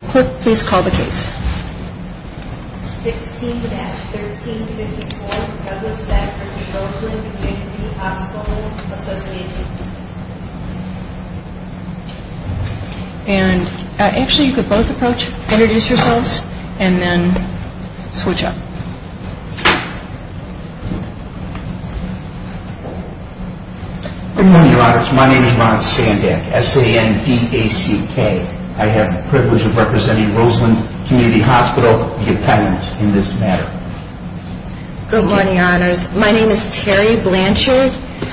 D. A. C. K. Good morning. My name is Ron Sandek, S-A-N-D-A-C-K. I have the privilege of representing the Roseland Community Hospital, the appellant in this matter. Good morning, Your Honors. My name is Terry Blanchard.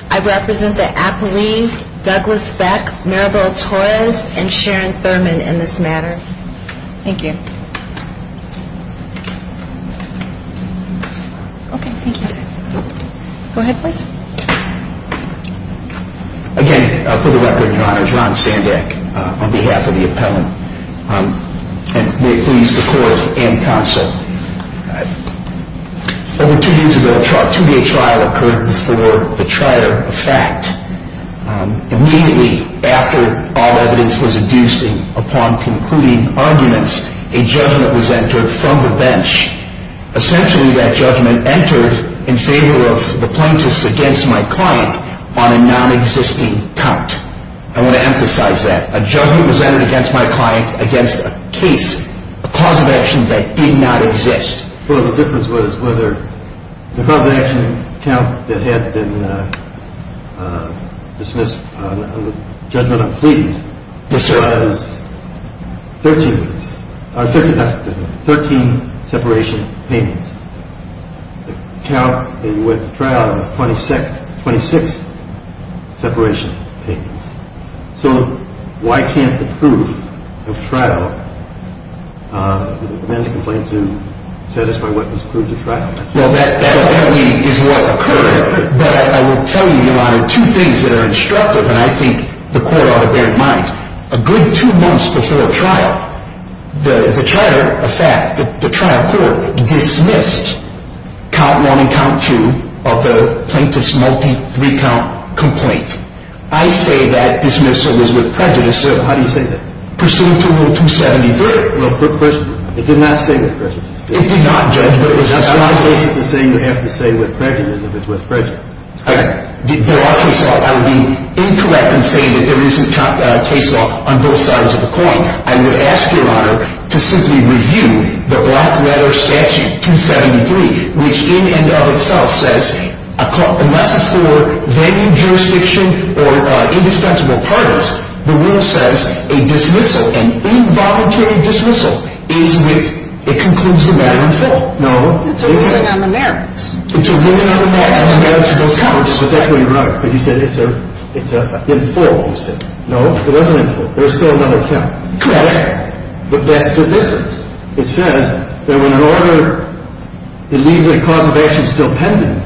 I represent the appellees Douglas Beck, Maribel Torres, and Sharon Thurman in this matter. Thank you. Okay, thank you. Go ahead, please. Again, for the record, Your Honors, Ron Sandek on behalf of the appellant, and may it please the Court and Counsel. Over two years ago, a two-day trial occurred before the trial of fact. Immediately after all evidence was induced upon concluding arguments, a judgment was entered from the bench. Essentially, that judgment entered in favor of the plaintiffs against my client on a non-existing count. I want to emphasize that. A judgment was entered against my client against a case, a cause of action that did not exist. The difference was whether the cause of action count that had been dismissed on the judgment on pleadings was 13, 13 separation payments. The count that you went to trial was 26 separation payments. So why can't the proof of trial, the man that complained to, satisfy what was proved at trial? Well, that is what occurred, but I will tell you, Your Honor, two things that are instructive, and I think the Court ought to bear in mind. A good two months before trial, the trial court dismissed count one and count two of the plaintiff's multi-three count complaint. I say that dismissal was with prejudice, so how do you say that? Pursuant to Rule 273. Well, quick question. It did not say with prejudice. It did not judge with prejudice. That's not the basis of saying you have to say with prejudice if it's with prejudice. I would be incorrect in saying that there isn't case law on both sides of the coin. I would ask, Your Honor, to simply review the black letter statute 273, which in and of itself says, unless it's for venue, jurisdiction, or indispensable parties, the rule says a dismissal, an involuntary dismissal, is with, it concludes the matter in full. No. It's a ruling on the merits. It's a ruling on the merits of those counts. But that's where you're wrong, because you said it's in full, you said. No, it wasn't in full. There was still another count. Correct. But that's the difference. It says that when an order, it leaves a cause of action still pending,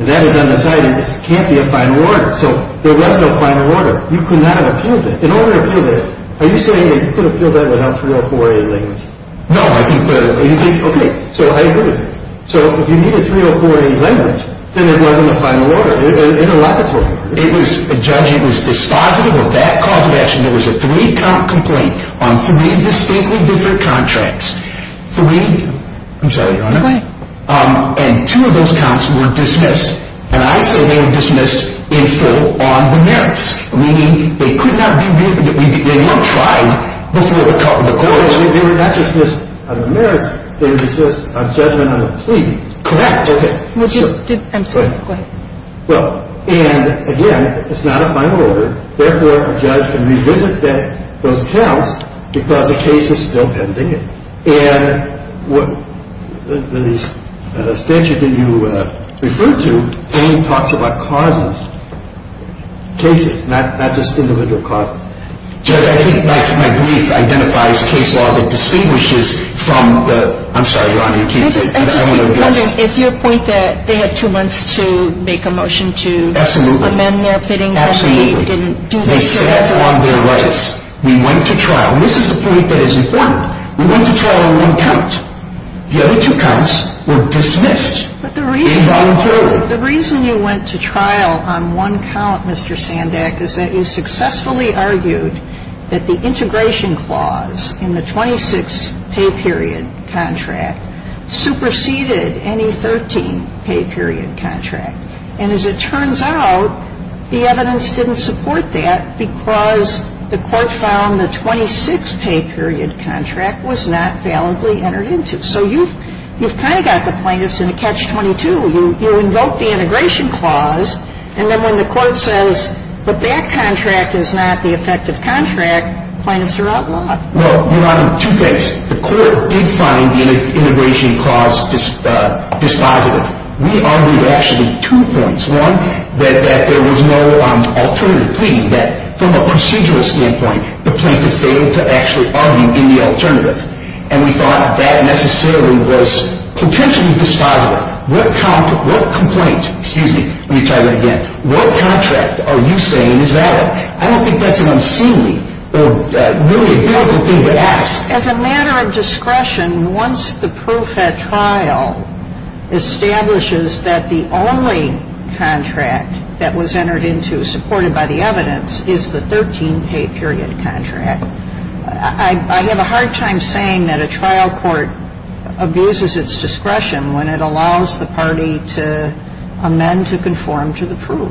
and that is undecided, it can't be a final order. So there was no final order. You could not have appealed it. In order to appeal that, are you saying that you could have appealed that without 304A language? No, I think that is correct. So you think, okay, so I agree with you. So if you need a 304A language, then it wasn't a final order. In a lot of cases. It was, Judge, it was dispositive of that cause of action. There was a three-count complaint on three distinctly different contracts. Three, I'm sorry, Your Honor, and two of those counts were dismissed, and I say they were dismissed in full on the merits. Meaning they could not be reviewed, they were tried before the court. They were not dismissed on the merits. They were dismissed on judgment on the plea. Correct. Okay. I'm sorry, go ahead. Well, and again, it's not a final order. Therefore, a judge can revisit those counts because a case is still pending it. And the statute that you referred to only talks about causes, cases, not just individual causes. Judge, I think my brief identifies case law that distinguishes from the, I'm sorry, Your Honor, you can't. I'm just wondering, is your point that they had two months to make a motion to amend their pittings and they didn't do this? No, the most important thing is that they had two months to make a motion to amend their pittings and they didn't do this. What's the difference? The difference is on their merits. We went to trial, and this is the point that is important. We went to trial on one count. The other two counts were dismissed involuntarily. The reason you went to trial on one count, Mr. Sandak, is that you successfully argued that the integration clause in the 26 pay period contract superseded any 13 pay period contract. And as it turns out, the evidence didn't support that because the Court found the 26 pay period contract was not validly entered into. So you've kind of got the plaintiffs in a catch-22. You invoke the integration clause, and then when the Court says, but that contract is not the effective contract, plaintiffs are outlawed. Well, Your Honor, two things. The Court did find the integration clause dispositive. We argued actually two points. One, that there was no alternative plea, that from a procedural standpoint, the plaintiff failed to actually argue in the alternative. And we thought that necessarily was potentially dispositive. What complaint, excuse me, let me try that again, what contract are you saying is valid? I don't think that's an unseemly or really a beautiful thing to ask. As a matter of discretion, once the pro-Fed trial establishes that the only contract that was entered into, supported by the evidence, is the 13 pay period contract, I have a hard time saying that a trial court abuses its discretion when it allows the party to amend to conform to the proof.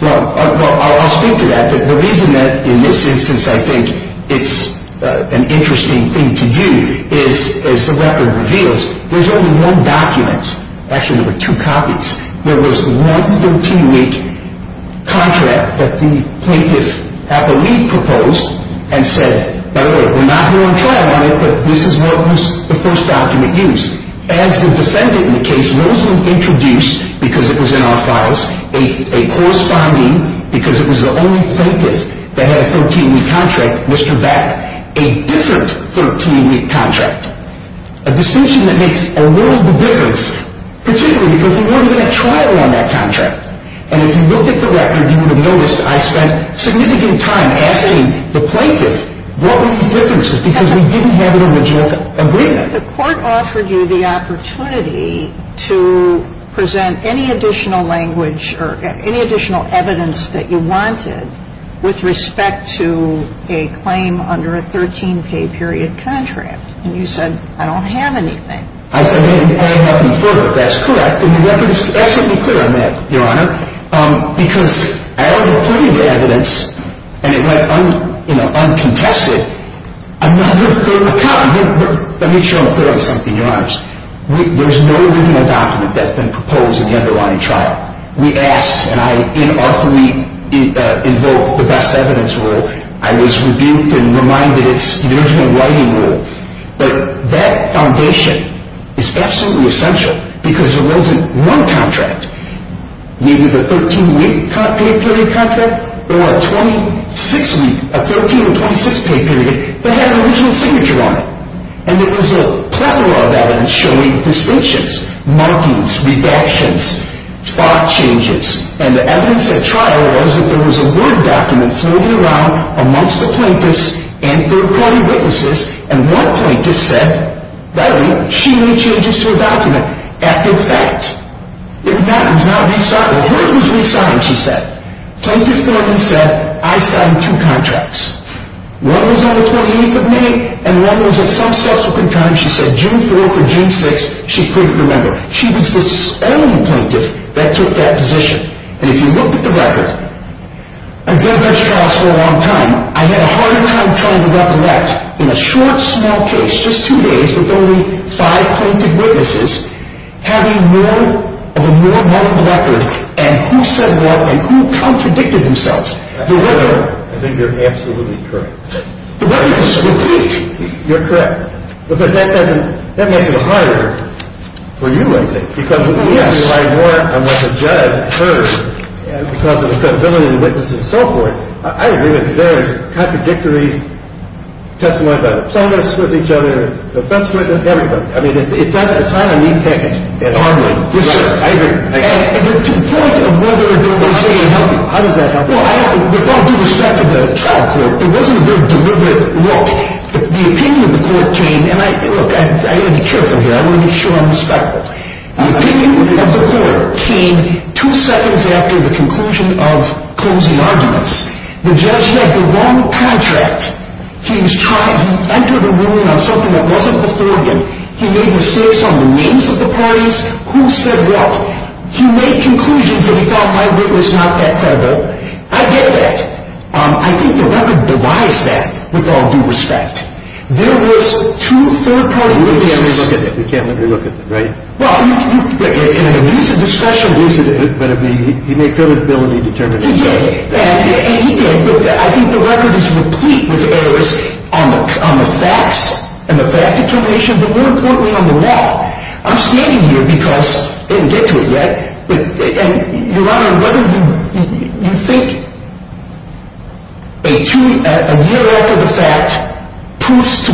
Well, I'll speak to that. But the reason that in this instance I think it's an interesting thing to do is, as the record reveals, there's only one document. Actually, there were two copies. There was one 13-week contract that the plaintiff had the lead proposed and said, by the way, we're not going to trial on it, but this is what was the first document used. As the defendant in the case, Rosen introduced, because it was in our files, a corresponding, because it was the only plaintiff that had a 13-week contract, Mr. Beck, a different 13-week contract. The court offered you the opportunity to present any additional language or any additional evidence that you wanted with respect to a claim under a 13-pay period contract. I said, I have nothing further. That's correct. And the record is absolutely clear on that, Your Honor, because I have included evidence, and it went uncontested, another third copy. Let me show them clearly something, Your Honors. There's no written document that's been proposed in the underlying trial. We asked, and I unarthly invoked the best evidence rule. I was rebuked and reminded it's the original writing rule. But that foundation is absolutely essential because there wasn't one contract, neither the 13-week pay period contract or a 26-week, a 13-26 pay period, that had an original signature on it. And it was a plethora of evidence showing distinctions, markings, redactions, thought changes. And the evidence at trial was that there was a word document floating around amongst the plaintiffs and third-party witnesses. And one plaintiff said, by the way, she made changes to her document after the fact. It was not re-signed. Well, hers was re-signed, she said. Plaintiff Thornton said, I signed two contracts. One was on the 28th of May, and one was at some subsequent time, she said, June 4th or June 6th. She couldn't remember. She was the only plaintiff that took that position. And if you look at the record, I've been at those trials for a long time. I've had a harder time trying to recollect in a short, small case, just two days, with only five plaintiff witnesses having more of a more lumped record and who said what and who contradicted themselves. I think you're absolutely correct. The record is complete. You're correct. But that makes it harder for you, I think. Because we have to rely more on what the judge heard because of the credibility of the witnesses and so forth. I agree with theirs. Contradictories, testimony by the plaintiffs with each other, the defense witness, everybody. I mean, it's not a neat package at all. Yes, sir. I agree. And to the point of whether or not they say they helped you, how does that help you? Well, with all due respect to the trial court, there wasn't a very deliberate look. The opinion of the court changed, and look, I need to be careful here. I want to make sure I'm respectful. The opinion of the court came two seconds after the conclusion of closing arguments. The judge had the wrong contract. He was trying to enter the ruling on something that wasn't authoritative. He made mistakes on the names of the parties. Who said what? He made conclusions that he felt my witness not that credible. I get that. I think the record divides that with all due respect. There was two third-party witnesses. We can't relook at that. We can't relook at that, right? Well, in a use of discretion. But he made credibility determinations. And I think the record is replete with errors on the facts and the fact determination, but more importantly on the law. I'm standing here because I didn't get to it yet. Your Honor, you think a year after the fact, proofs to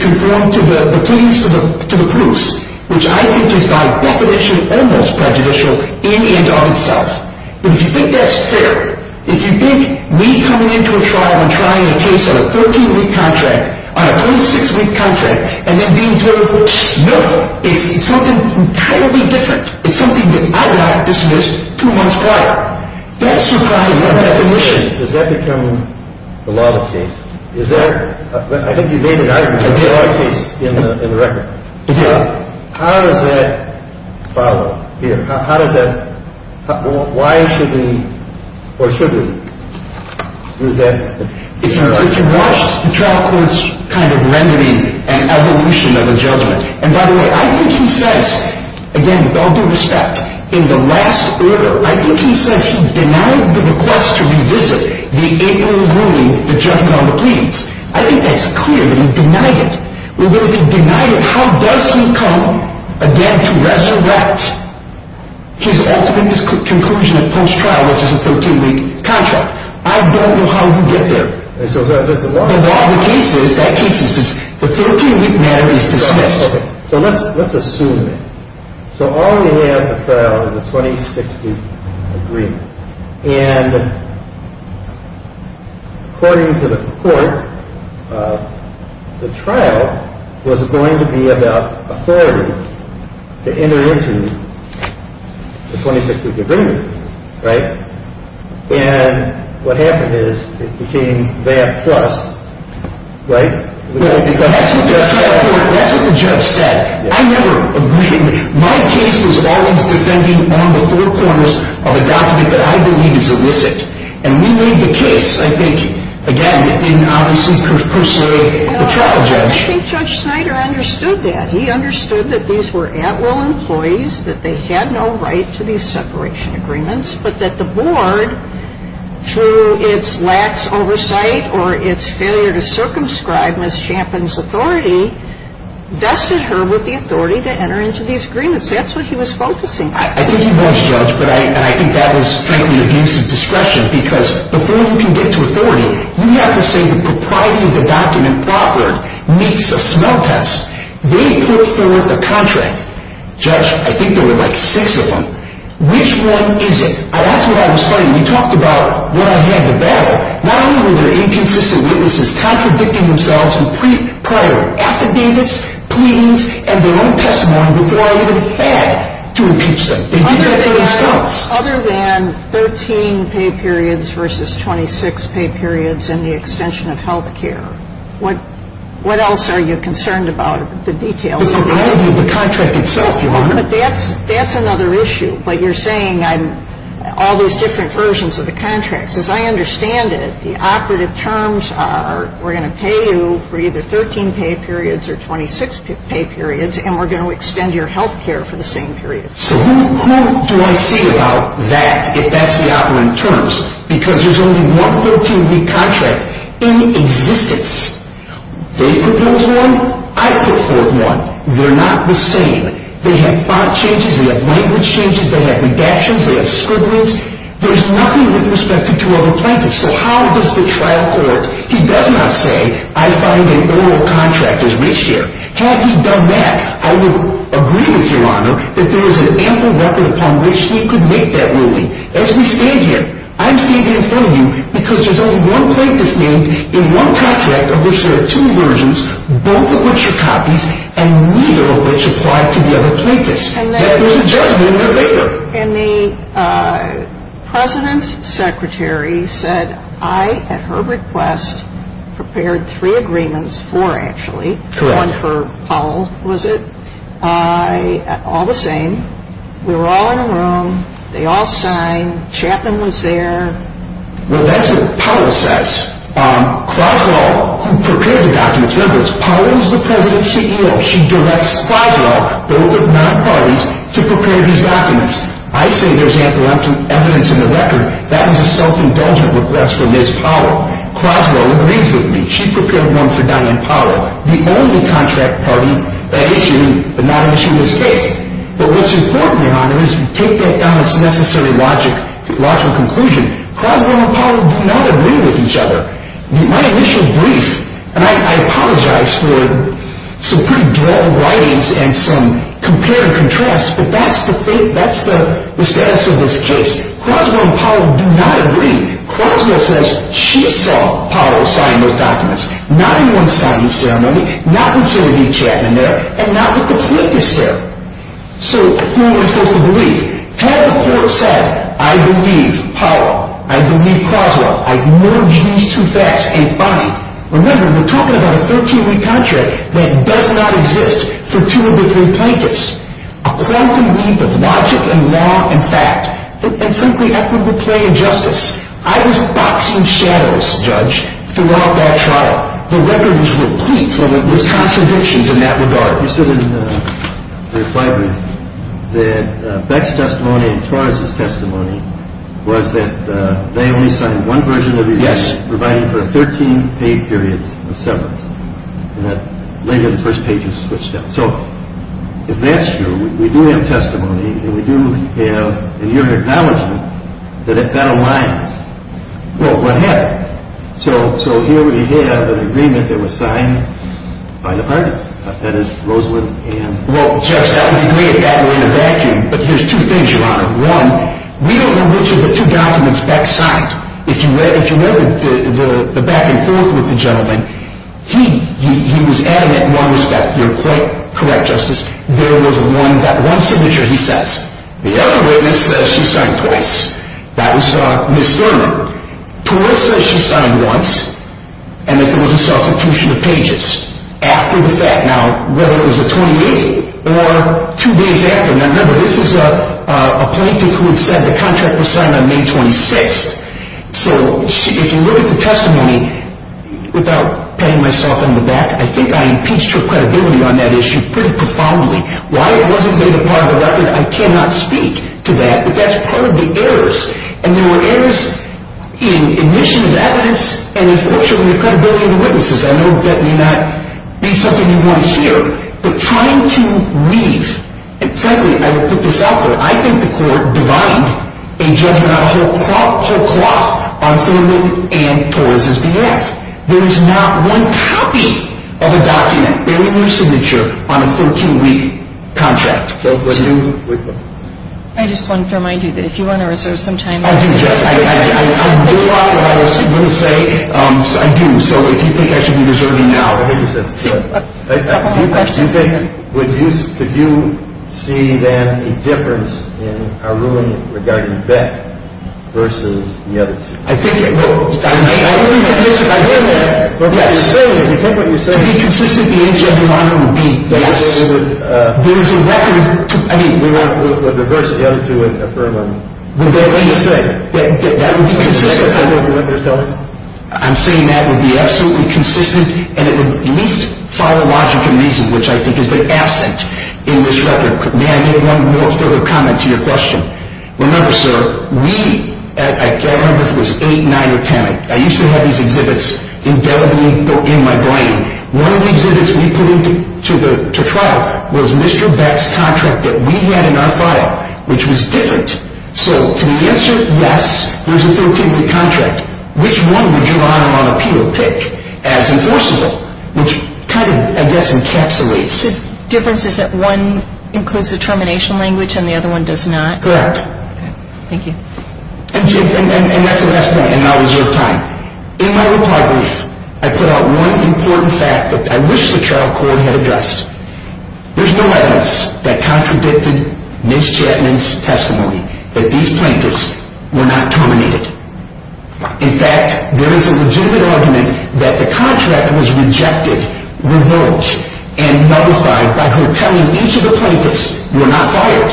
conform to the proofs, which I think is by definition almost prejudicial in and of itself. But if you think that's fair, if you think me coming into a trial and trying a case on a 13-week contract, on a 26-week contract, and then being told, no, it's something entirely different. It's something that I got dismissed two months prior. That's surprising by definition. Has that become the law of the case? Is there – I think you made an argument. I did. The law of the case in the record. I did. How does that follow here? How does that – why should we or should we use that? If you watched the trial court's kind of remedy and evolution of the judgment – and by the way, I think he says, again, with all due respect, in the last order, I think he says he denied the request to revisit the April ruling, the judgment on the pleadings. I think that's clear that he denied it. But if he denied it, how does he come, again, to resurrect his ultimate conclusion at post-trial, which is a 13-week contract? I don't know how you get there. The law of the case is that case is – the 13-week matter is dismissed. So let's assume it. So all we have in the trial is a 26-week agreement. And according to the court, the trial was going to be about authority to enter into the 26-week agreement, right? And what happened is it became that plus, right? Well, that's what the trial court – that's what the judge said. I never agreed. My case was always defending on the four corners of a document that I believe is illicit. And we made the case, I think, again, in, obviously, per se, the trial judge. I think Judge Snyder understood that. He understood that these were at-will employees, that they had no right to these separation agreements, but that the board, through its lax oversight or its failure to circumscribe Ms. Champin's authority, vested her with the authority to enter into these agreements. That's what he was focusing on. I think he was, Judge. But I think that was, frankly, abuse of discretion because before you can get to authority, you have to say the propriety of the document offered meets a smell test. They put forth a contract. Judge, I think there were, like, six of them. Which one is it? That's what I was fighting. You talked about what I had to battle. Not only were there inconsistent witnesses contradicting themselves with prior affidavits, pleadings, and their own testimony before I even had to impeach them. They did that for themselves. Other than 13 pay periods versus 26 pay periods and the extension of health care, what else are you concerned about? The details. The quality of the contract itself, Your Honor. But that's another issue. But you're saying all these different versions of the contracts. As I understand it, the operative terms are we're going to pay you for either 13 pay periods or 26 pay periods, and we're going to extend your health care for the same period. So who do I see about that if that's the operative terms? Because there's only one 13-week contract in existence. They put forth one. I put forth one. They're not the same. They have font changes. They have language changes. They have redactions. They have scribblings. There's nothing with respect to two other plaintiffs. So how does the trial court, he does not say, I find an oral contract is reached here. Had he done that, I would agree with you, Your Honor, that there is an ample record upon which he could make that ruling. As we stand here, I'm standing in front of you because there's only one plaintiff named in one contract of which there are two versions, both of which are copies, and neither of which apply to the other plaintiffs. Yet there's a judgment in their favor. And the president's secretary said, I, at her request, prepared three agreements, four actually, one for Powell, was it? All the same. We were all in a room. They all signed. Chapman was there. Well, that's what Powell says. Croswell, who prepared the documents, remembers, Powell is the president's CEO. She directs Croswell, both of nine parties, to prepare these documents. I say there's ample evidence in the record. That was a self-indulgent request from Ms. Powell. Croswell agrees with me. She prepared one for Diane Powell, the only contract party that issued, but not issued this case. But what's important, Your Honor, is to take that down as necessary logical conclusion. Croswell and Powell do not agree with each other. My initial brief, and I apologize for some pretty drawn writings and some compare and contrast, but that's the status of this case. Croswell and Powell do not agree. Croswell says she saw Powell sign those documents. Not in one signing ceremony, not with Genevieve Chapman there, and not with the plaintiffs there. So who am I supposed to believe? Had the court said, I believe Powell, I believe Croswell, I merge these two facts in finding. Remember, we're talking about a 13-week contract that does not exist for two of the three plaintiffs. A quantum leap of logic and law and fact. And frankly, that would be plain injustice. I was boxing shadows, Judge, throughout that trial. The record was replete with contradictions in that regard. You said in your reply brief that Beck's testimony and Torres' testimony was that they only signed one version of the agreement. Yes. Providing for 13 paid periods of severance, and that later the first page was switched out. So if that's true, we do have testimony, and we do have a near acknowledgment that that aligns. Well, what happened? So here we have an agreement that was signed by the parties. Well, Judge, that would be great if that were in a vacuum. But here's two things, Your Honor. One, we don't know which of the two documents Beck signed. If you read the back and forth with the gentleman, he was adamant in one respect. You're quite correct, Justice. There was one signature he says. The other witness says she signed twice. That was Ms. Thurman. Torres says she signed once, and that there was a substitution of pages. After the fact. Now, whether it was a 28th or two days after. Now, remember, this is a plaintiff who had said the contract was signed on May 26th. So if you look at the testimony, without patting myself on the back, I think I impeached her credibility on that issue pretty profoundly. Why it wasn't made a part of the record, I cannot speak to that. But that's part of the errors. And there were errors in admission of evidence and, unfortunately, the credibility of the witnesses. I know that may not be something you want to hear. But trying to leave, and, frankly, I will put this out there, I think the court divined a judgment on whole cloth on Thurman and Torres' behalf. There is not one copy of a document bearing her signature on a 13-week contract. I just want to remind you that if you want to reserve some time. I do, Judge. I do a lot of what I was going to say. I do. And so if you think I should be reserving now. I think that's good. A couple more questions. Do you think, would you, could you see then a difference in our ruling regarding Beck versus the other two? I think it will. I mean, I would be convinced if I heard that. Yes. But what you're saying, you take what you're saying. To be consistent, the answer of the honor would be yes. There is a record to, I mean. We want to reverse the other two and affirm them. That's what you're saying. That would be consistent. I'm saying that would be accurate. Absolutely consistent. And it would at least follow logic and reason, which I think has been absent in this record. May I make one more further comment to your question? Remember, sir, we, I can't remember if it was 8, 9, or 10. I used to have these exhibits indelibly in my brain. One of the exhibits we put into trial was Mr. Beck's contract that we had in our file, which was different. So to the answer, yes, there's a 13-week contract. Which one would your Honor on Appeal pick as enforceable, which kind of, I guess, encapsulates. The difference is that one includes the termination language and the other one does not. Correct. Thank you. And that's the last point, and now is your time. In my report brief, I put out one important fact that I wish the trial court had addressed. There's no evidence that contradicted Ms. Chapman's testimony that these plaintiffs were not terminated. In fact, there is a legitimate argument that the contract was rejected, revoked, and nullified by her telling each of the plaintiffs, you are not fired,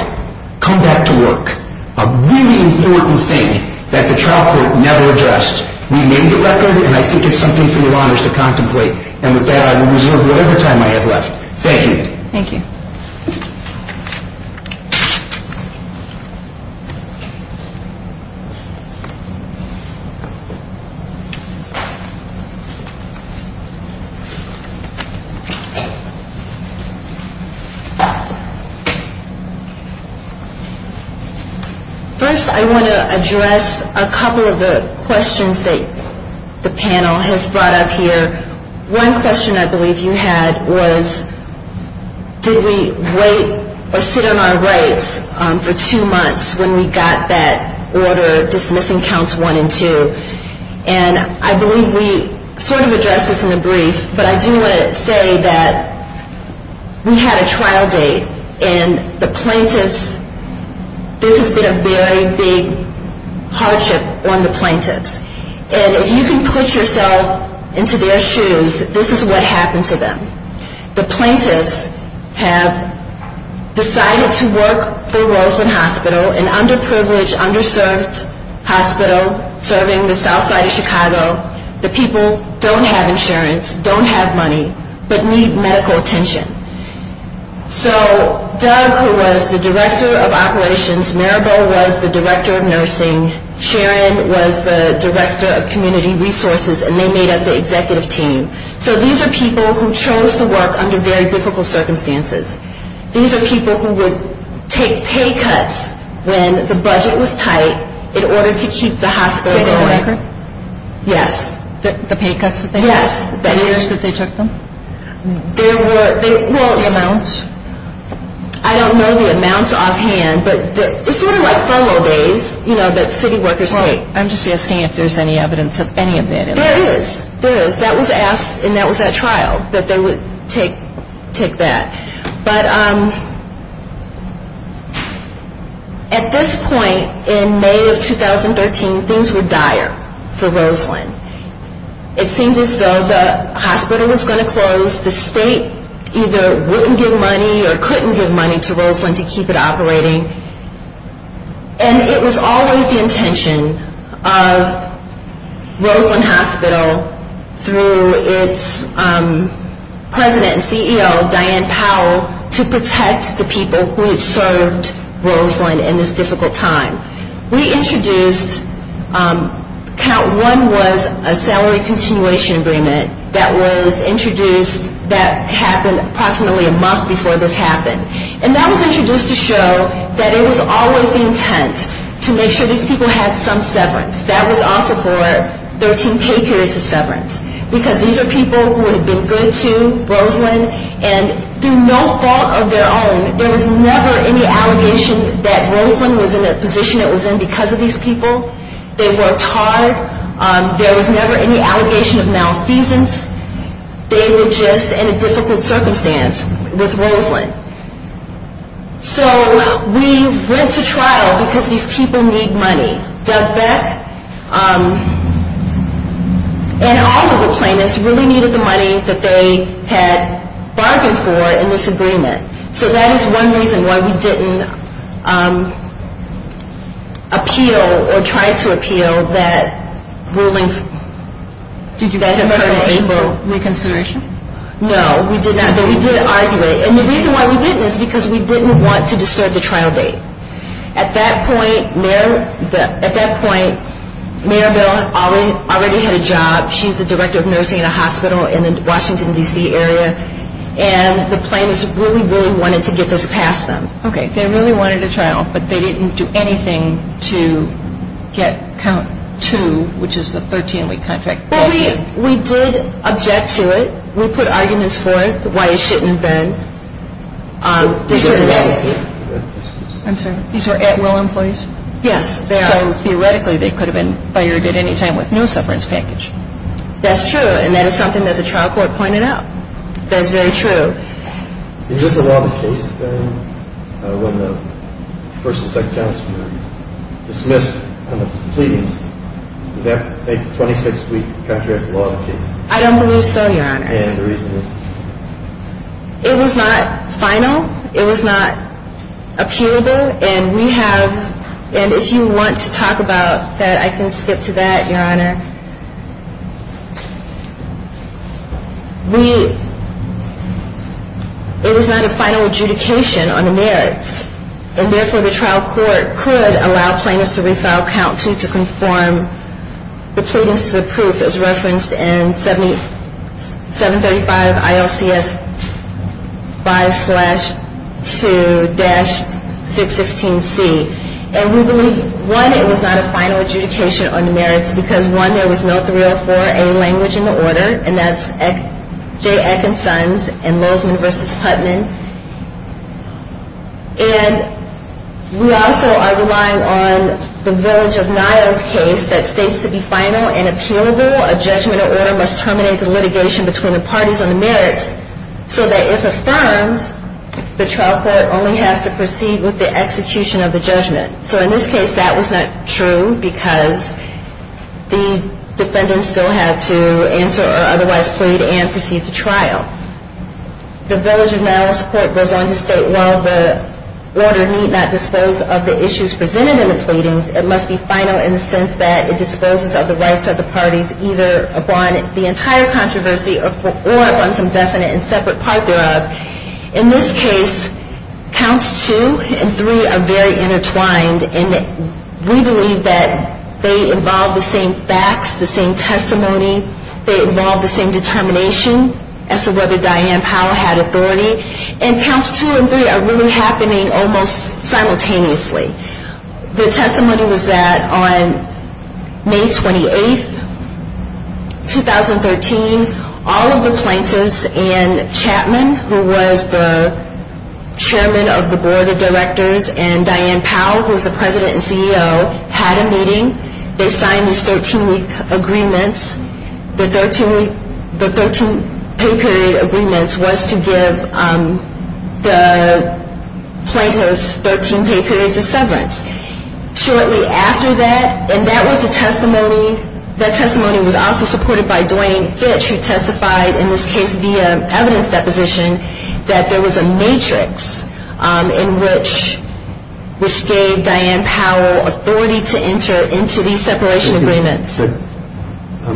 come back to work. A really important thing that the trial court never addressed. We made the record, and I think it's something for your Honors to contemplate. And with that, I will reserve whatever time I have left. Thank you. Thank you. First, I want to address a couple of the questions that the panel has brought up here. One question I believe you had was, did we wait or sit on our rights for two months when we got that order dismissing counts one and two? And I believe we sort of addressed this in the brief, but I do want to say that we had a trial date, and the plaintiffs, this has been a very big hardship on the plaintiffs. And if you can put yourself into their shoes, this is what happened to them. The plaintiffs have decided to work for Roseland Hospital, an underprivileged, underserved hospital serving the south side of Chicago. The people don't have insurance, don't have money, but need medical attention. So Doug, who was the director of operations, Maribel was the director of nursing, Sharon was the director of community resources, and they made up the executive team. So these are people who chose to work under very difficult circumstances. These are people who would take pay cuts when the budget was tight in order to keep the hospital going. Did they have a record? Yes. The pay cuts that they took? Yes. The years that they took them? There were, well. The amounts? I don't know the amounts offhand, but it's sort of like formal days, you know, that city workers take. I'm just asking if there's any evidence of any of that. There is. There is. That was asked, and that was at trial, that they would take that. But at this point in May of 2013, things were dire for Roseland. It seemed as though the hospital was going to close. The state either wouldn't give money or couldn't give money to Roseland to keep it operating. And it was always the intention of Roseland Hospital through its president and CEO, Diane Powell, to protect the people who had served Roseland in this difficult time. We introduced, count one was a salary continuation agreement that was introduced, that happened approximately a month before this happened. And that was introduced to show that it was always the intent to make sure these people had some severance. That was also for 13 pay periods of severance. Because these are people who had been good to Roseland, and through no fault of their own, there was never any allegation that Roseland was in a position it was in because of these people. They worked hard. There was never any allegation of malfeasance. They were just in a difficult circumstance with Roseland. So we went to trial because these people need money. Doug Beck and all of the plaintiffs really needed the money that they had bargained for in this agreement. So that is one reason why we didn't appeal or try to appeal that ruling that occurred in April. No, we did argue it. And the reason why we didn't is because we didn't want to disturb the trial date. At that point, Mayor Bill already had a job. She's the director of nursing in a hospital in the Washington, D.C. area. And the plaintiffs really, really wanted to get this past them. Okay. They really wanted a trial, but they didn't do anything to get count two, which is the 13-week contract. Well, we did object to it. We put arguments forth why it shouldn't have been. I'm sorry. These were at-will employees? Yes. So theoretically, they could have been fired at any time with no sufferance package. That's true. And that is something that the trial court pointed out. That is very true. Is this a law of the case, then, when the first and second counts were dismissed on the pleadings? Is that a 26-week contract law of the case? I don't believe so, Your Honor. And the reason is? It was not final. It was not appealable. And we have – and if you want to talk about that, I can skip to that, Your Honor. We – it was not a final adjudication on the merits, and therefore the trial court could allow plaintiffs to refile count two to conform the pleadings to the proof as referenced in 735 ILCS 5-2-616C. And we believe, one, it was not a final adjudication on the merits because, one, there was no 304A language in the order, and that's J. Ekinson's and Lozman v. Putnam. And we also are relying on the Village of Niles case that states to be final and appealable, a judgment or order must terminate the litigation between the parties on the merits so that if affirmed, the trial court only has to proceed with the execution of the judgment. So in this case, that was not true because the defendant still had to answer or otherwise plead and proceed to trial. The Village of Niles court goes on to state, while the order need not dispose of the issues presented in the pleadings, it must be final in the sense that it disposes of the rights of the parties either upon the entire controversy or upon some definite and separate part thereof. In this case, Counts 2 and 3 are very intertwined, and we believe that they involve the same facts, the same testimony, they involve the same determination as to whether Diane Powell had authority. And Counts 2 and 3 are really happening almost simultaneously. The testimony was that on May 28, 2013, all of the plaintiffs and Chapman, who was the chairman of the board of directors, and Diane Powell, who was the president and CEO, had a meeting. They signed these 13-week agreements. The 13 pay period agreements was to give the plaintiffs 13 pay periods of severance. And that testimony was also supported by Dwayne Fitch, who testified in this case via evidence deposition that there was a matrix in which gave Diane Powell authority to enter into these separation agreements. But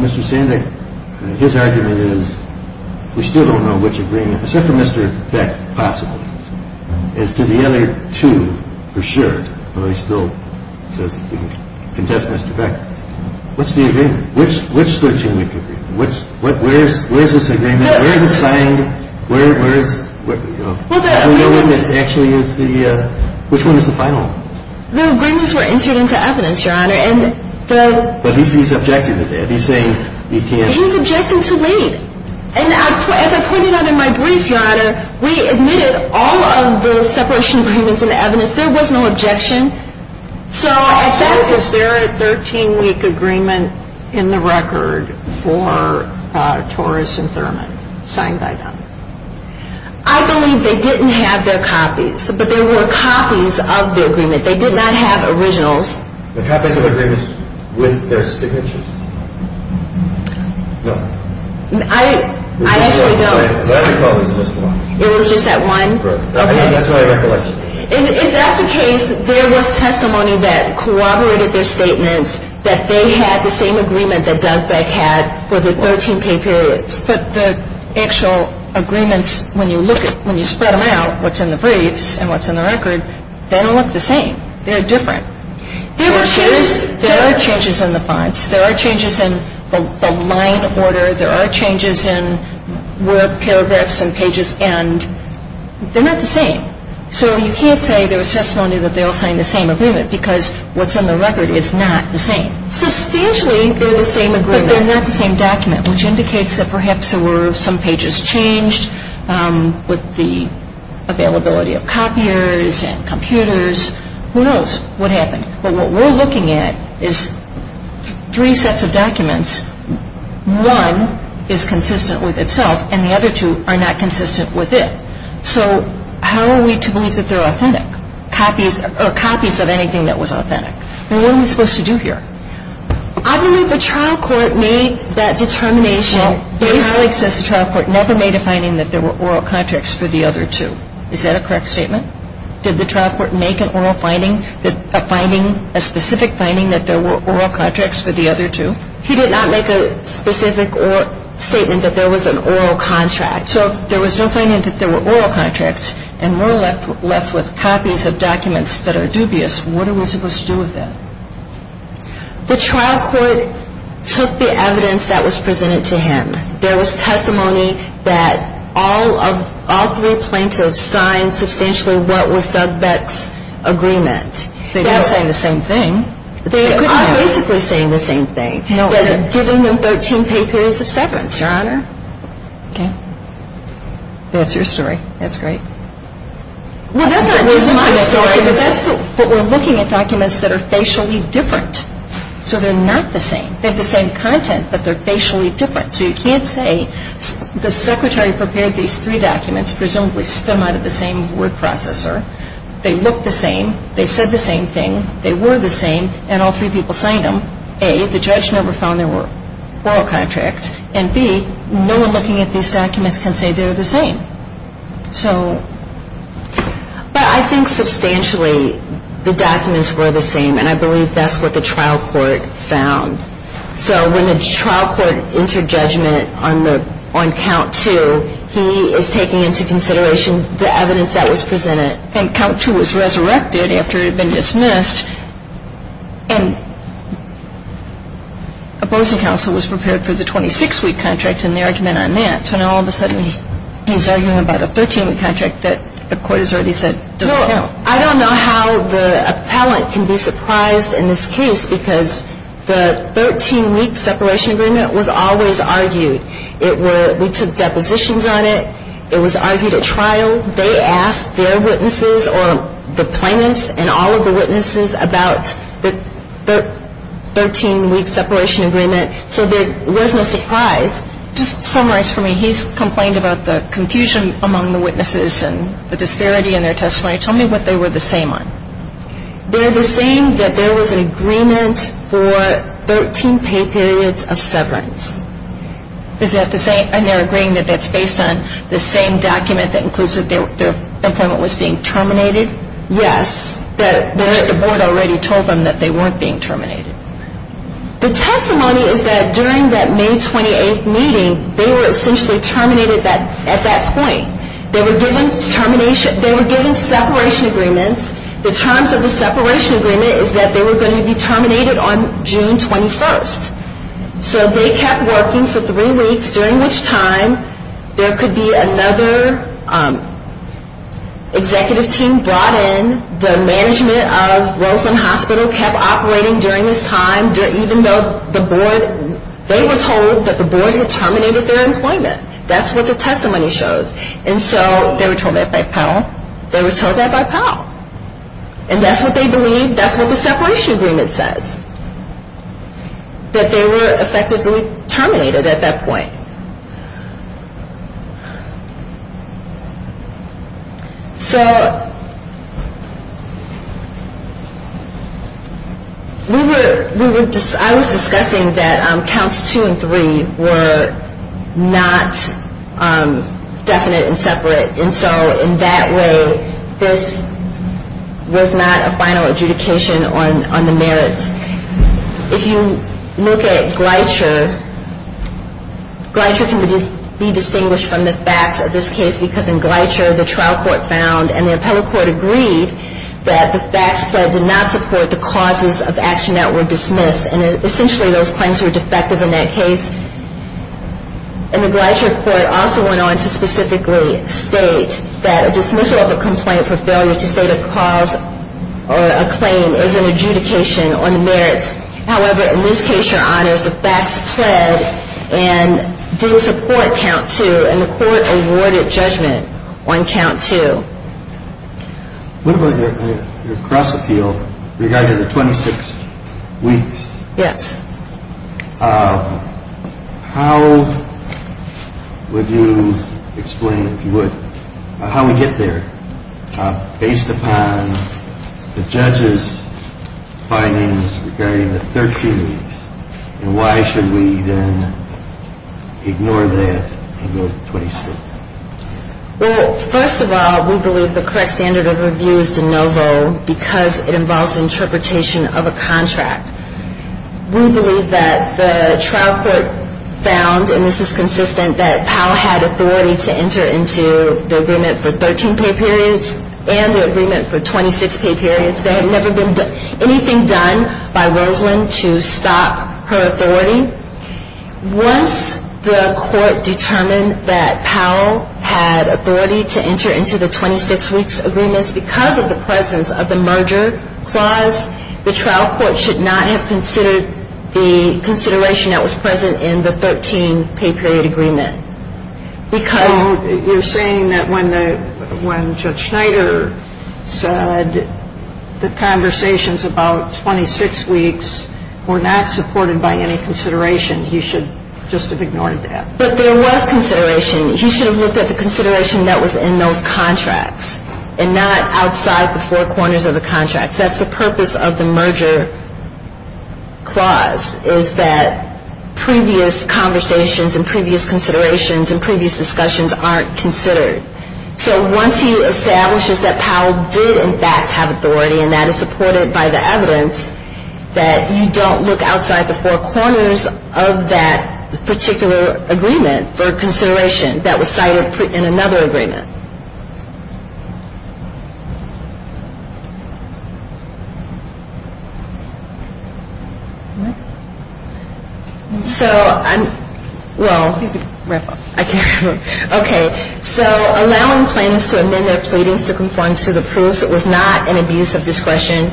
Mr. Sandek, his argument is we still don't know which agreement, except for Mr. Beck, possibly, as to the other two for sure. But I still contest Mr. Beck. What's the agreement? Which 13-week agreement? Where is this agreement? Where is it signed? Where is, you know, actually is the, which one is the final? The agreements were entered into evidence, Your Honor, and the But he's objecting to that. He's saying you can't He's objecting too late. And as I pointed out in my brief, Your Honor, we admitted all of the separation agreements in the evidence. There was no objection. So is there a 13-week agreement in the record for Torres and Thurman signed by them? I believe they didn't have their copies. But there were copies of the agreement. They did not have originals. The copies of the agreements with their signatures? No. I actually don't. I recall it was just one. It was just that one? Right. That's my recollection. If that's the case, there was testimony that corroborated their statements that they had the same agreement that Dugbeck had for the 13 pay periods. But the actual agreements, when you look at, when you spread them out, what's in the briefs and what's in the record, they don't look the same. They're different. There were changes. There are changes in the fonts. There are changes in the line order. There are changes in word paragraphs and pages. And they're not the same. So you can't say there was testimony that they all signed the same agreement because what's in the record is not the same. Substantially, they're the same agreement. But they're not the same document, which indicates that perhaps there were some pages changed with the availability of copiers and computers. Who knows what happened. But what we're looking at is three sets of documents. One is consistent with itself, and the other two are not consistent with it. So how are we to believe that they're authentic? Copies of anything that was authentic. Well, what are we supposed to do here? I believe the trial court made that determination. Well, your colleague says the trial court never made a finding that there were oral contracts for the other two. Is that a correct statement? Did the trial court make an oral finding, a finding, a specific finding that there were oral contracts for the other two? He did not make a specific statement that there was an oral contract. So if there was no finding that there were oral contracts and we're left with copies of documents that are dubious, what are we supposed to do with them? The trial court took the evidence that was presented to him. There was testimony that all three plaintiffs signed substantially what was Doug Betz's agreement. They're not saying the same thing. They are basically saying the same thing. They're giving them 13 paid periods of severance, Your Honor. Okay. That's your story. That's great. Well, that's not just my story. But we're looking at documents that are facially different. So they're not the same. They have the same content, but they're facially different. So you can't say the secretary prepared these three documents, presumably stem out of the same word processor. They look the same. They said the same thing. They were the same. And all three people signed them. A, the judge never found there were oral contracts. And B, no one looking at these documents can say they're the same. But I think substantially the documents were the same, and I believe that's what the trial court found. So when the trial court entered judgment on count two, he is taking into consideration the evidence that was presented. And count two was resurrected after it had been dismissed, and opposing counsel was prepared for the 26-week contract and the argument on that. So now all of a sudden he's arguing about a 13-week contract that the court has already said doesn't count. No, I don't know how the appellant can be surprised in this case because the 13-week separation agreement was always argued. We took depositions on it. It was argued at trial. They asked their witnesses or the plaintiffs and all of the witnesses about the 13-week separation agreement. So there was no surprise. Just summarize for me. He's complained about the confusion among the witnesses and the disparity in their testimony. Tell me what they were the same on. They're the same that there was an agreement for 13 pay periods of severance. And they're agreeing that that's based on the same document that includes that their employment was being terminated? Yes, but the board already told them that they weren't being terminated. The testimony is that during that May 28th meeting, they were essentially terminated at that point. They were given separation agreements. The terms of the separation agreement is that they were going to be terminated on June 21st. So they kept working for three weeks, during which time there could be another executive team brought in. The management of Roseland Hospital kept operating during this time, even though they were told that the board had terminated their employment. That's what the testimony shows. And so they were told that by Powell. They were told that by Powell. And that's what they believe. That's what the separation agreement says. That they were effectively terminated at that point. So, we were, I was discussing that counts two and three were not definite and separate. And so, in that way, this was not a final adjudication on the merits. If you look at Gleicher, Gleicher can be distinguished from the facts of this case, because in Gleicher, the trial court found and the appellate court agreed that the facts did not support the causes of action that were dismissed. And essentially, those claims were defective in that case. And the Gleicher court also went on to specifically state that a dismissal of a complaint for failure to state a cause or a claim is an adjudication on the merits. However, in this case, Your Honors, the facts pled and do support count two. And the court awarded judgment on count two. What about your cross-appeal regarding the 26 weeks? Yes. How would you explain, if you would, how we get there, based upon the judge's findings regarding the 13 weeks? And why should we then ignore that and go to 26? Well, first of all, we believe the correct standard of review is de novo because it involves interpretation of a contract. We believe that the trial court found, and this is consistent, that Powell had authority to enter into the agreement for 13 pay periods and the agreement for 26 pay periods. There had never been anything done by Rosalyn to stop her authority. Once the court determined that Powell had authority to enter into the 26 weeks agreement because of the presence of the merger clause, the trial court should not have considered the consideration that was present in the 13 pay period agreement. So you're saying that when Judge Schneider said the conversations about 26 weeks were not supported by any consideration, he should just have ignored that. But there was consideration. He should have looked at the consideration that was in those contracts and not outside the four corners of the contracts. That's the purpose of the merger clause, is that previous conversations and previous considerations and previous discussions aren't considered. So once he establishes that Powell did, in fact, have authority and that is supported by the evidence, that you don't look outside the four corners of that particular agreement for consideration that was cited in another agreement. So allowing plaintiffs to amend their pleadings to conform to the proofs that it was not an abuse of discretion.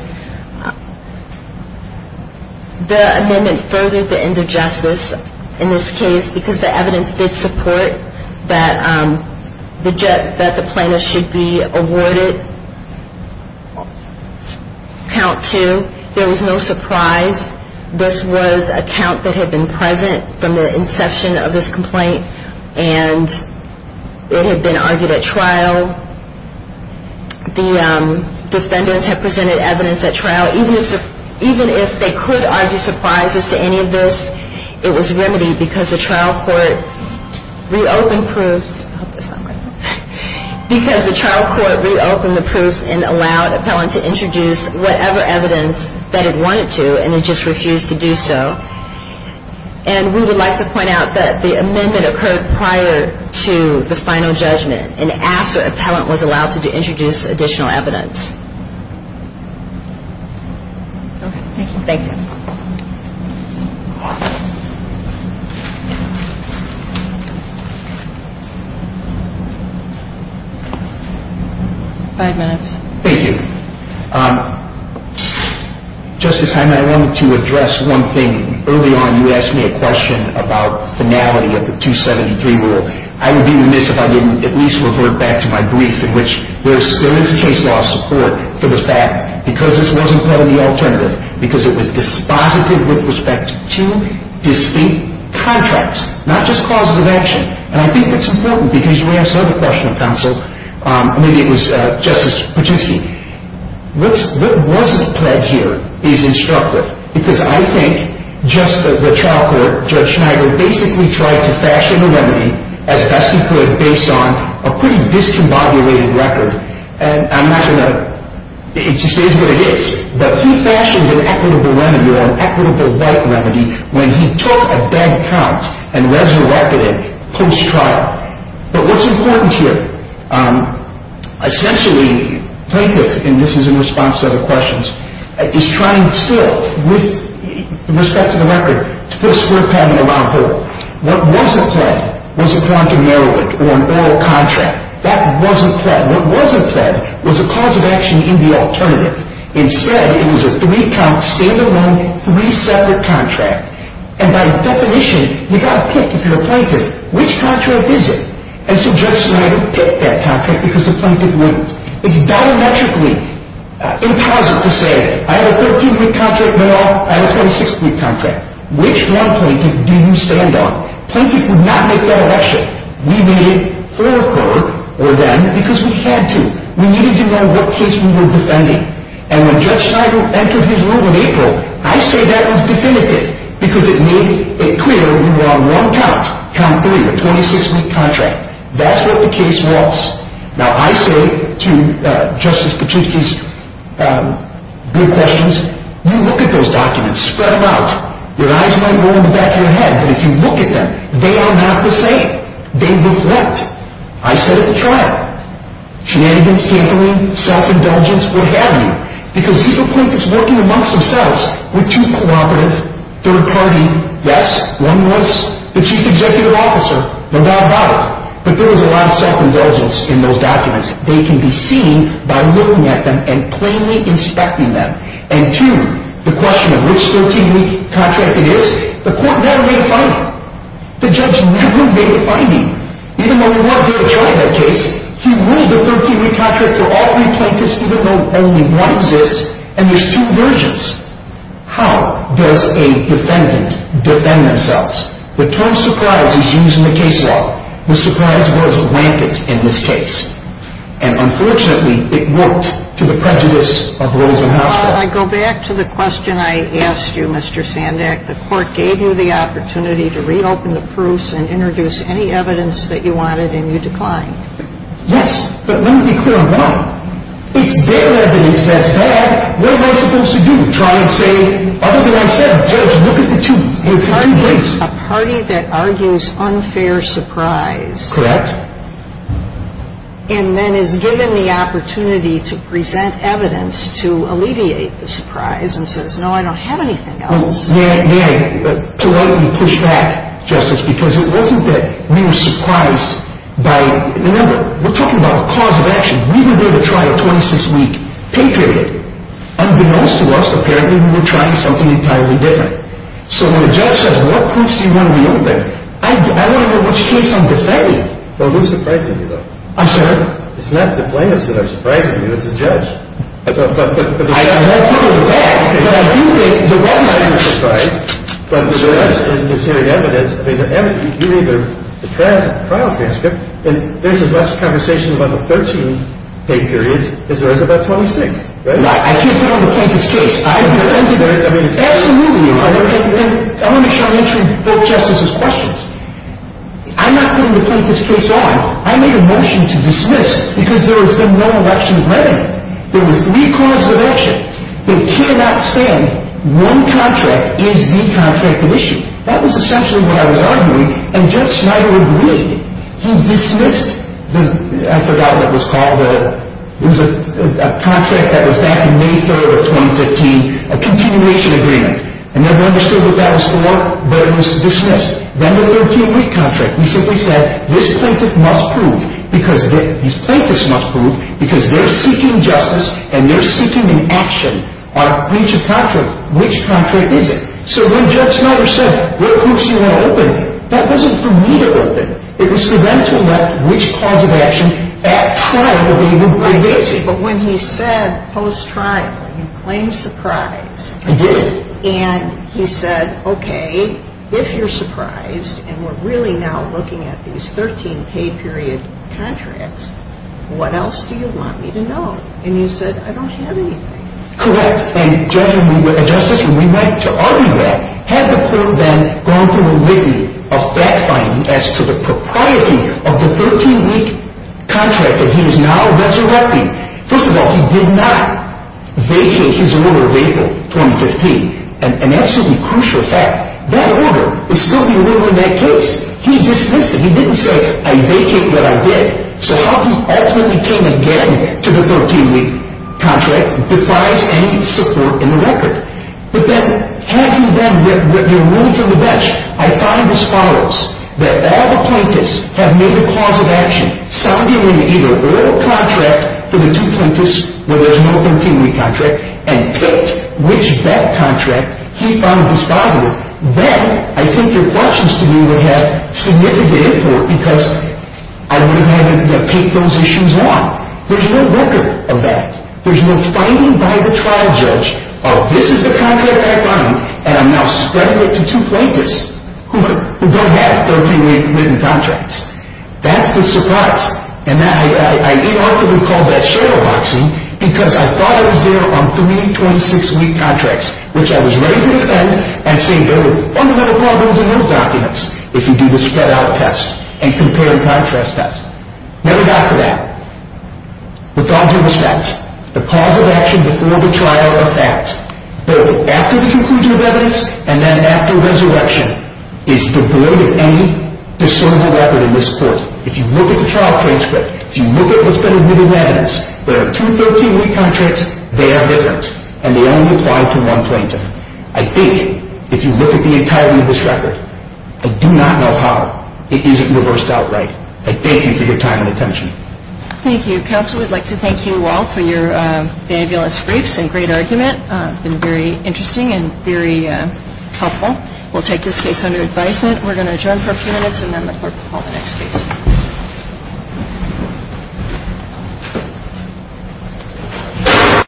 The amendment furthered the end of justice in this case because the evidence did support that the plaintiff should be awarded count two. There was no surprise. This was a count that had been present from the inception of this complaint and it had been argued at trial. The defendants had presented evidence at trial. Even if they could argue surprises to any of this, it was remedied because the trial court reopened proofs. Because the trial court reopened the proofs and allowed appellant to introduce whatever evidence that it wanted to and it just refused to do so. And we would like to point out that the amendment occurred prior to the final judgment and after appellant was allowed to introduce additional evidence. Thank you. Five minutes. Thank you. Justice Hyman, I wanted to address one thing. Early on you asked me a question about finality of the 273 rule. I would be remiss if I didn't at least revert back to my brief in which there still is case law support for the fact, because this wasn't part of the alternative, because it was dispositive with respect to distinct contracts, not just causative action. And I think that's important because you asked another question of counsel. Maybe it was Justice Patusky. What wasn't said here is instructive because I think just the trial court, Judge Schneider, basically tried to fashion a remedy as best he could based on a pretty discombobulated record. And I'm not going to, it just is what it is. But he fashioned an equitable remedy or an equitable right remedy when he took a bad count and resurrected it post-trial. But what's important here, essentially plaintiff, and this is in response to other questions, is trying still with respect to the record to put a square pattern around her. What wasn't pled was a Toronto-Maryland or an oral contract. That wasn't pled. What wasn't pled was a causative action in the alternative. Instead, it was a three count, standalone, three separate contract. And by definition, you've got to pick, if you're a plaintiff, which contract is it? And so Judge Schneider picked that contract because the plaintiff wouldn't. It's diametrically impossible to say, I have a 13-week contract, but I have a 26-week contract. Which one plaintiff do you stand on? Plaintiff would not make that election. We made it for her or them because we had to. We needed to know what case we were defending. And when Judge Schneider entered his room in April, I say that was definitive because it made it clear we were on one count, count three, a 26-week contract. That's what the case was. Now, I say to Justice Pachinki's good questions, you look at those documents, spread them out. Your eyes might go in the back of your head, but if you look at them, they are not the same. They reflect. I said at the trial, shenanigans, tampering, self-indulgence, what have you. Because these are plaintiffs working amongst themselves with two cooperative, third-party, yes, one was the chief executive officer, no doubt about it, but there was a lot of self-indulgence in those documents. They can be seen by looking at them and plainly inspecting them. And two, the question of which 13-week contract it is, the court never made a finding. The judge never made a finding. Even though we wanted him to try that case, he ruled a 13-week contract for all three plaintiffs even though only one exists, and there's two versions. How does a defendant defend themselves? The term surprise is used in the case law. The surprise was rampant in this case. And unfortunately, it worked to the prejudice of Rosenhausch. I go back to the question I asked you, Mr. Sandak. The court gave you the opportunity to reopen the proofs and introduce any evidence that you wanted, and you declined. Yes, but let me be clear about it. It's their evidence that's bad. What am I supposed to do? Try and say other than what I said? Judge, look at the two. It's a party that argues unfair surprise. Correct. And then is given the opportunity to present evidence to alleviate the surprise and says, no, I don't have anything else. May I politely push back, Justice, because it wasn't that we were surprised by the number. We're talking about a cause of action. We were there to try a 26-week pay period. Unbeknownst to us, apparently we were trying something entirely different. So when a judge says, what proofs do you want to reopen, I don't know which case I'm defending. Well, who's surprising you, though? I'm sorry? It's the judge. I won't put it in the bag, but I do think the judge is surprised. But the judge is hearing evidence. I mean, you read the trial transcript, and there's as much conversation about the 13 pay periods as there is about 26, right? I can't put on the plaintiff's case. I defended it. Absolutely. And let me try answering both justices' questions. I'm not putting the plaintiff's case on. I made a motion to dismiss because there had been no election planning. There were three causes of action. They cannot stand one contract is the contract of issue. That was essentially what I was arguing, and Judge Snyder agreed. He dismissed the – I forgot what it was called. It was a contract that was back in May 3rd of 2015, a continuation agreement. I never understood what that was for, but it was dismissed. Then the 13-week contract. We simply said this plaintiff must prove because – these plaintiffs must prove because they're seeking justice and they're seeking an action on each contract. Which contract is it? So when Judge Snyder said, what proofs do you want to open? That wasn't for me to open. It was for them to elect which cause of action at trial they would be raising. Right. But when he said post-trial, you claimed surprise. I did. And he said, okay, if you're surprised and we're really now looking at these 13-pay period contracts, what else do you want me to know? And he said, I don't have anything. Correct. And, Judge, when we went to argue that, had the court then gone through a litany of fact-finding as to the propriety of the 13-week contract that he is now resurrecting. First of all, he did not vacate his order of April 2015. An absolutely crucial fact. That order is still the order in that case. He dismissed it. He didn't say, I vacate what I did. So how he ultimately came again to the 13-week contract defies any support in the record. But then, having then written your ruling from the bench, I find as follows. That all the plaintiffs have made a pause of action. Signing an either-or contract for the two plaintiffs where there's no 13-week contract and picked which bet contract he found was positive. Then, I think your questions to me would have significant import because I would have had to take those issues on. There's no record of that. There's no finding by the trial judge of this is the contract I find and I'm now spreading it to two plaintiffs who don't have 13-week written contracts. That's the surprise. And I unarticulately called that shadow boxing because I thought I was there on three 26-week contracts, which I was ready to defend and say there were fundamental problems in those documents if you do the spread-out test and compare-and-contrast test. Never got to that. With all due respect, the pause of action before the trial are fact. Both after the conclusion of evidence and then after resurrection is devoid of any discernible record in this court. If you look at the trial transcript, if you look at what's been admitted in evidence, where there are two 13-week contracts, they are different and they only apply to one plaintiff. I think if you look at the entirety of this record, I do not know how it isn't reversed outright. I thank you for your time and attention. Thank you. Mr. Counsel, we'd like to thank you all for your fabulous briefs and great argument. It's been very interesting and very helpful. We'll take this case under advisement. We're going to adjourn for a few minutes and then the court will call the next case.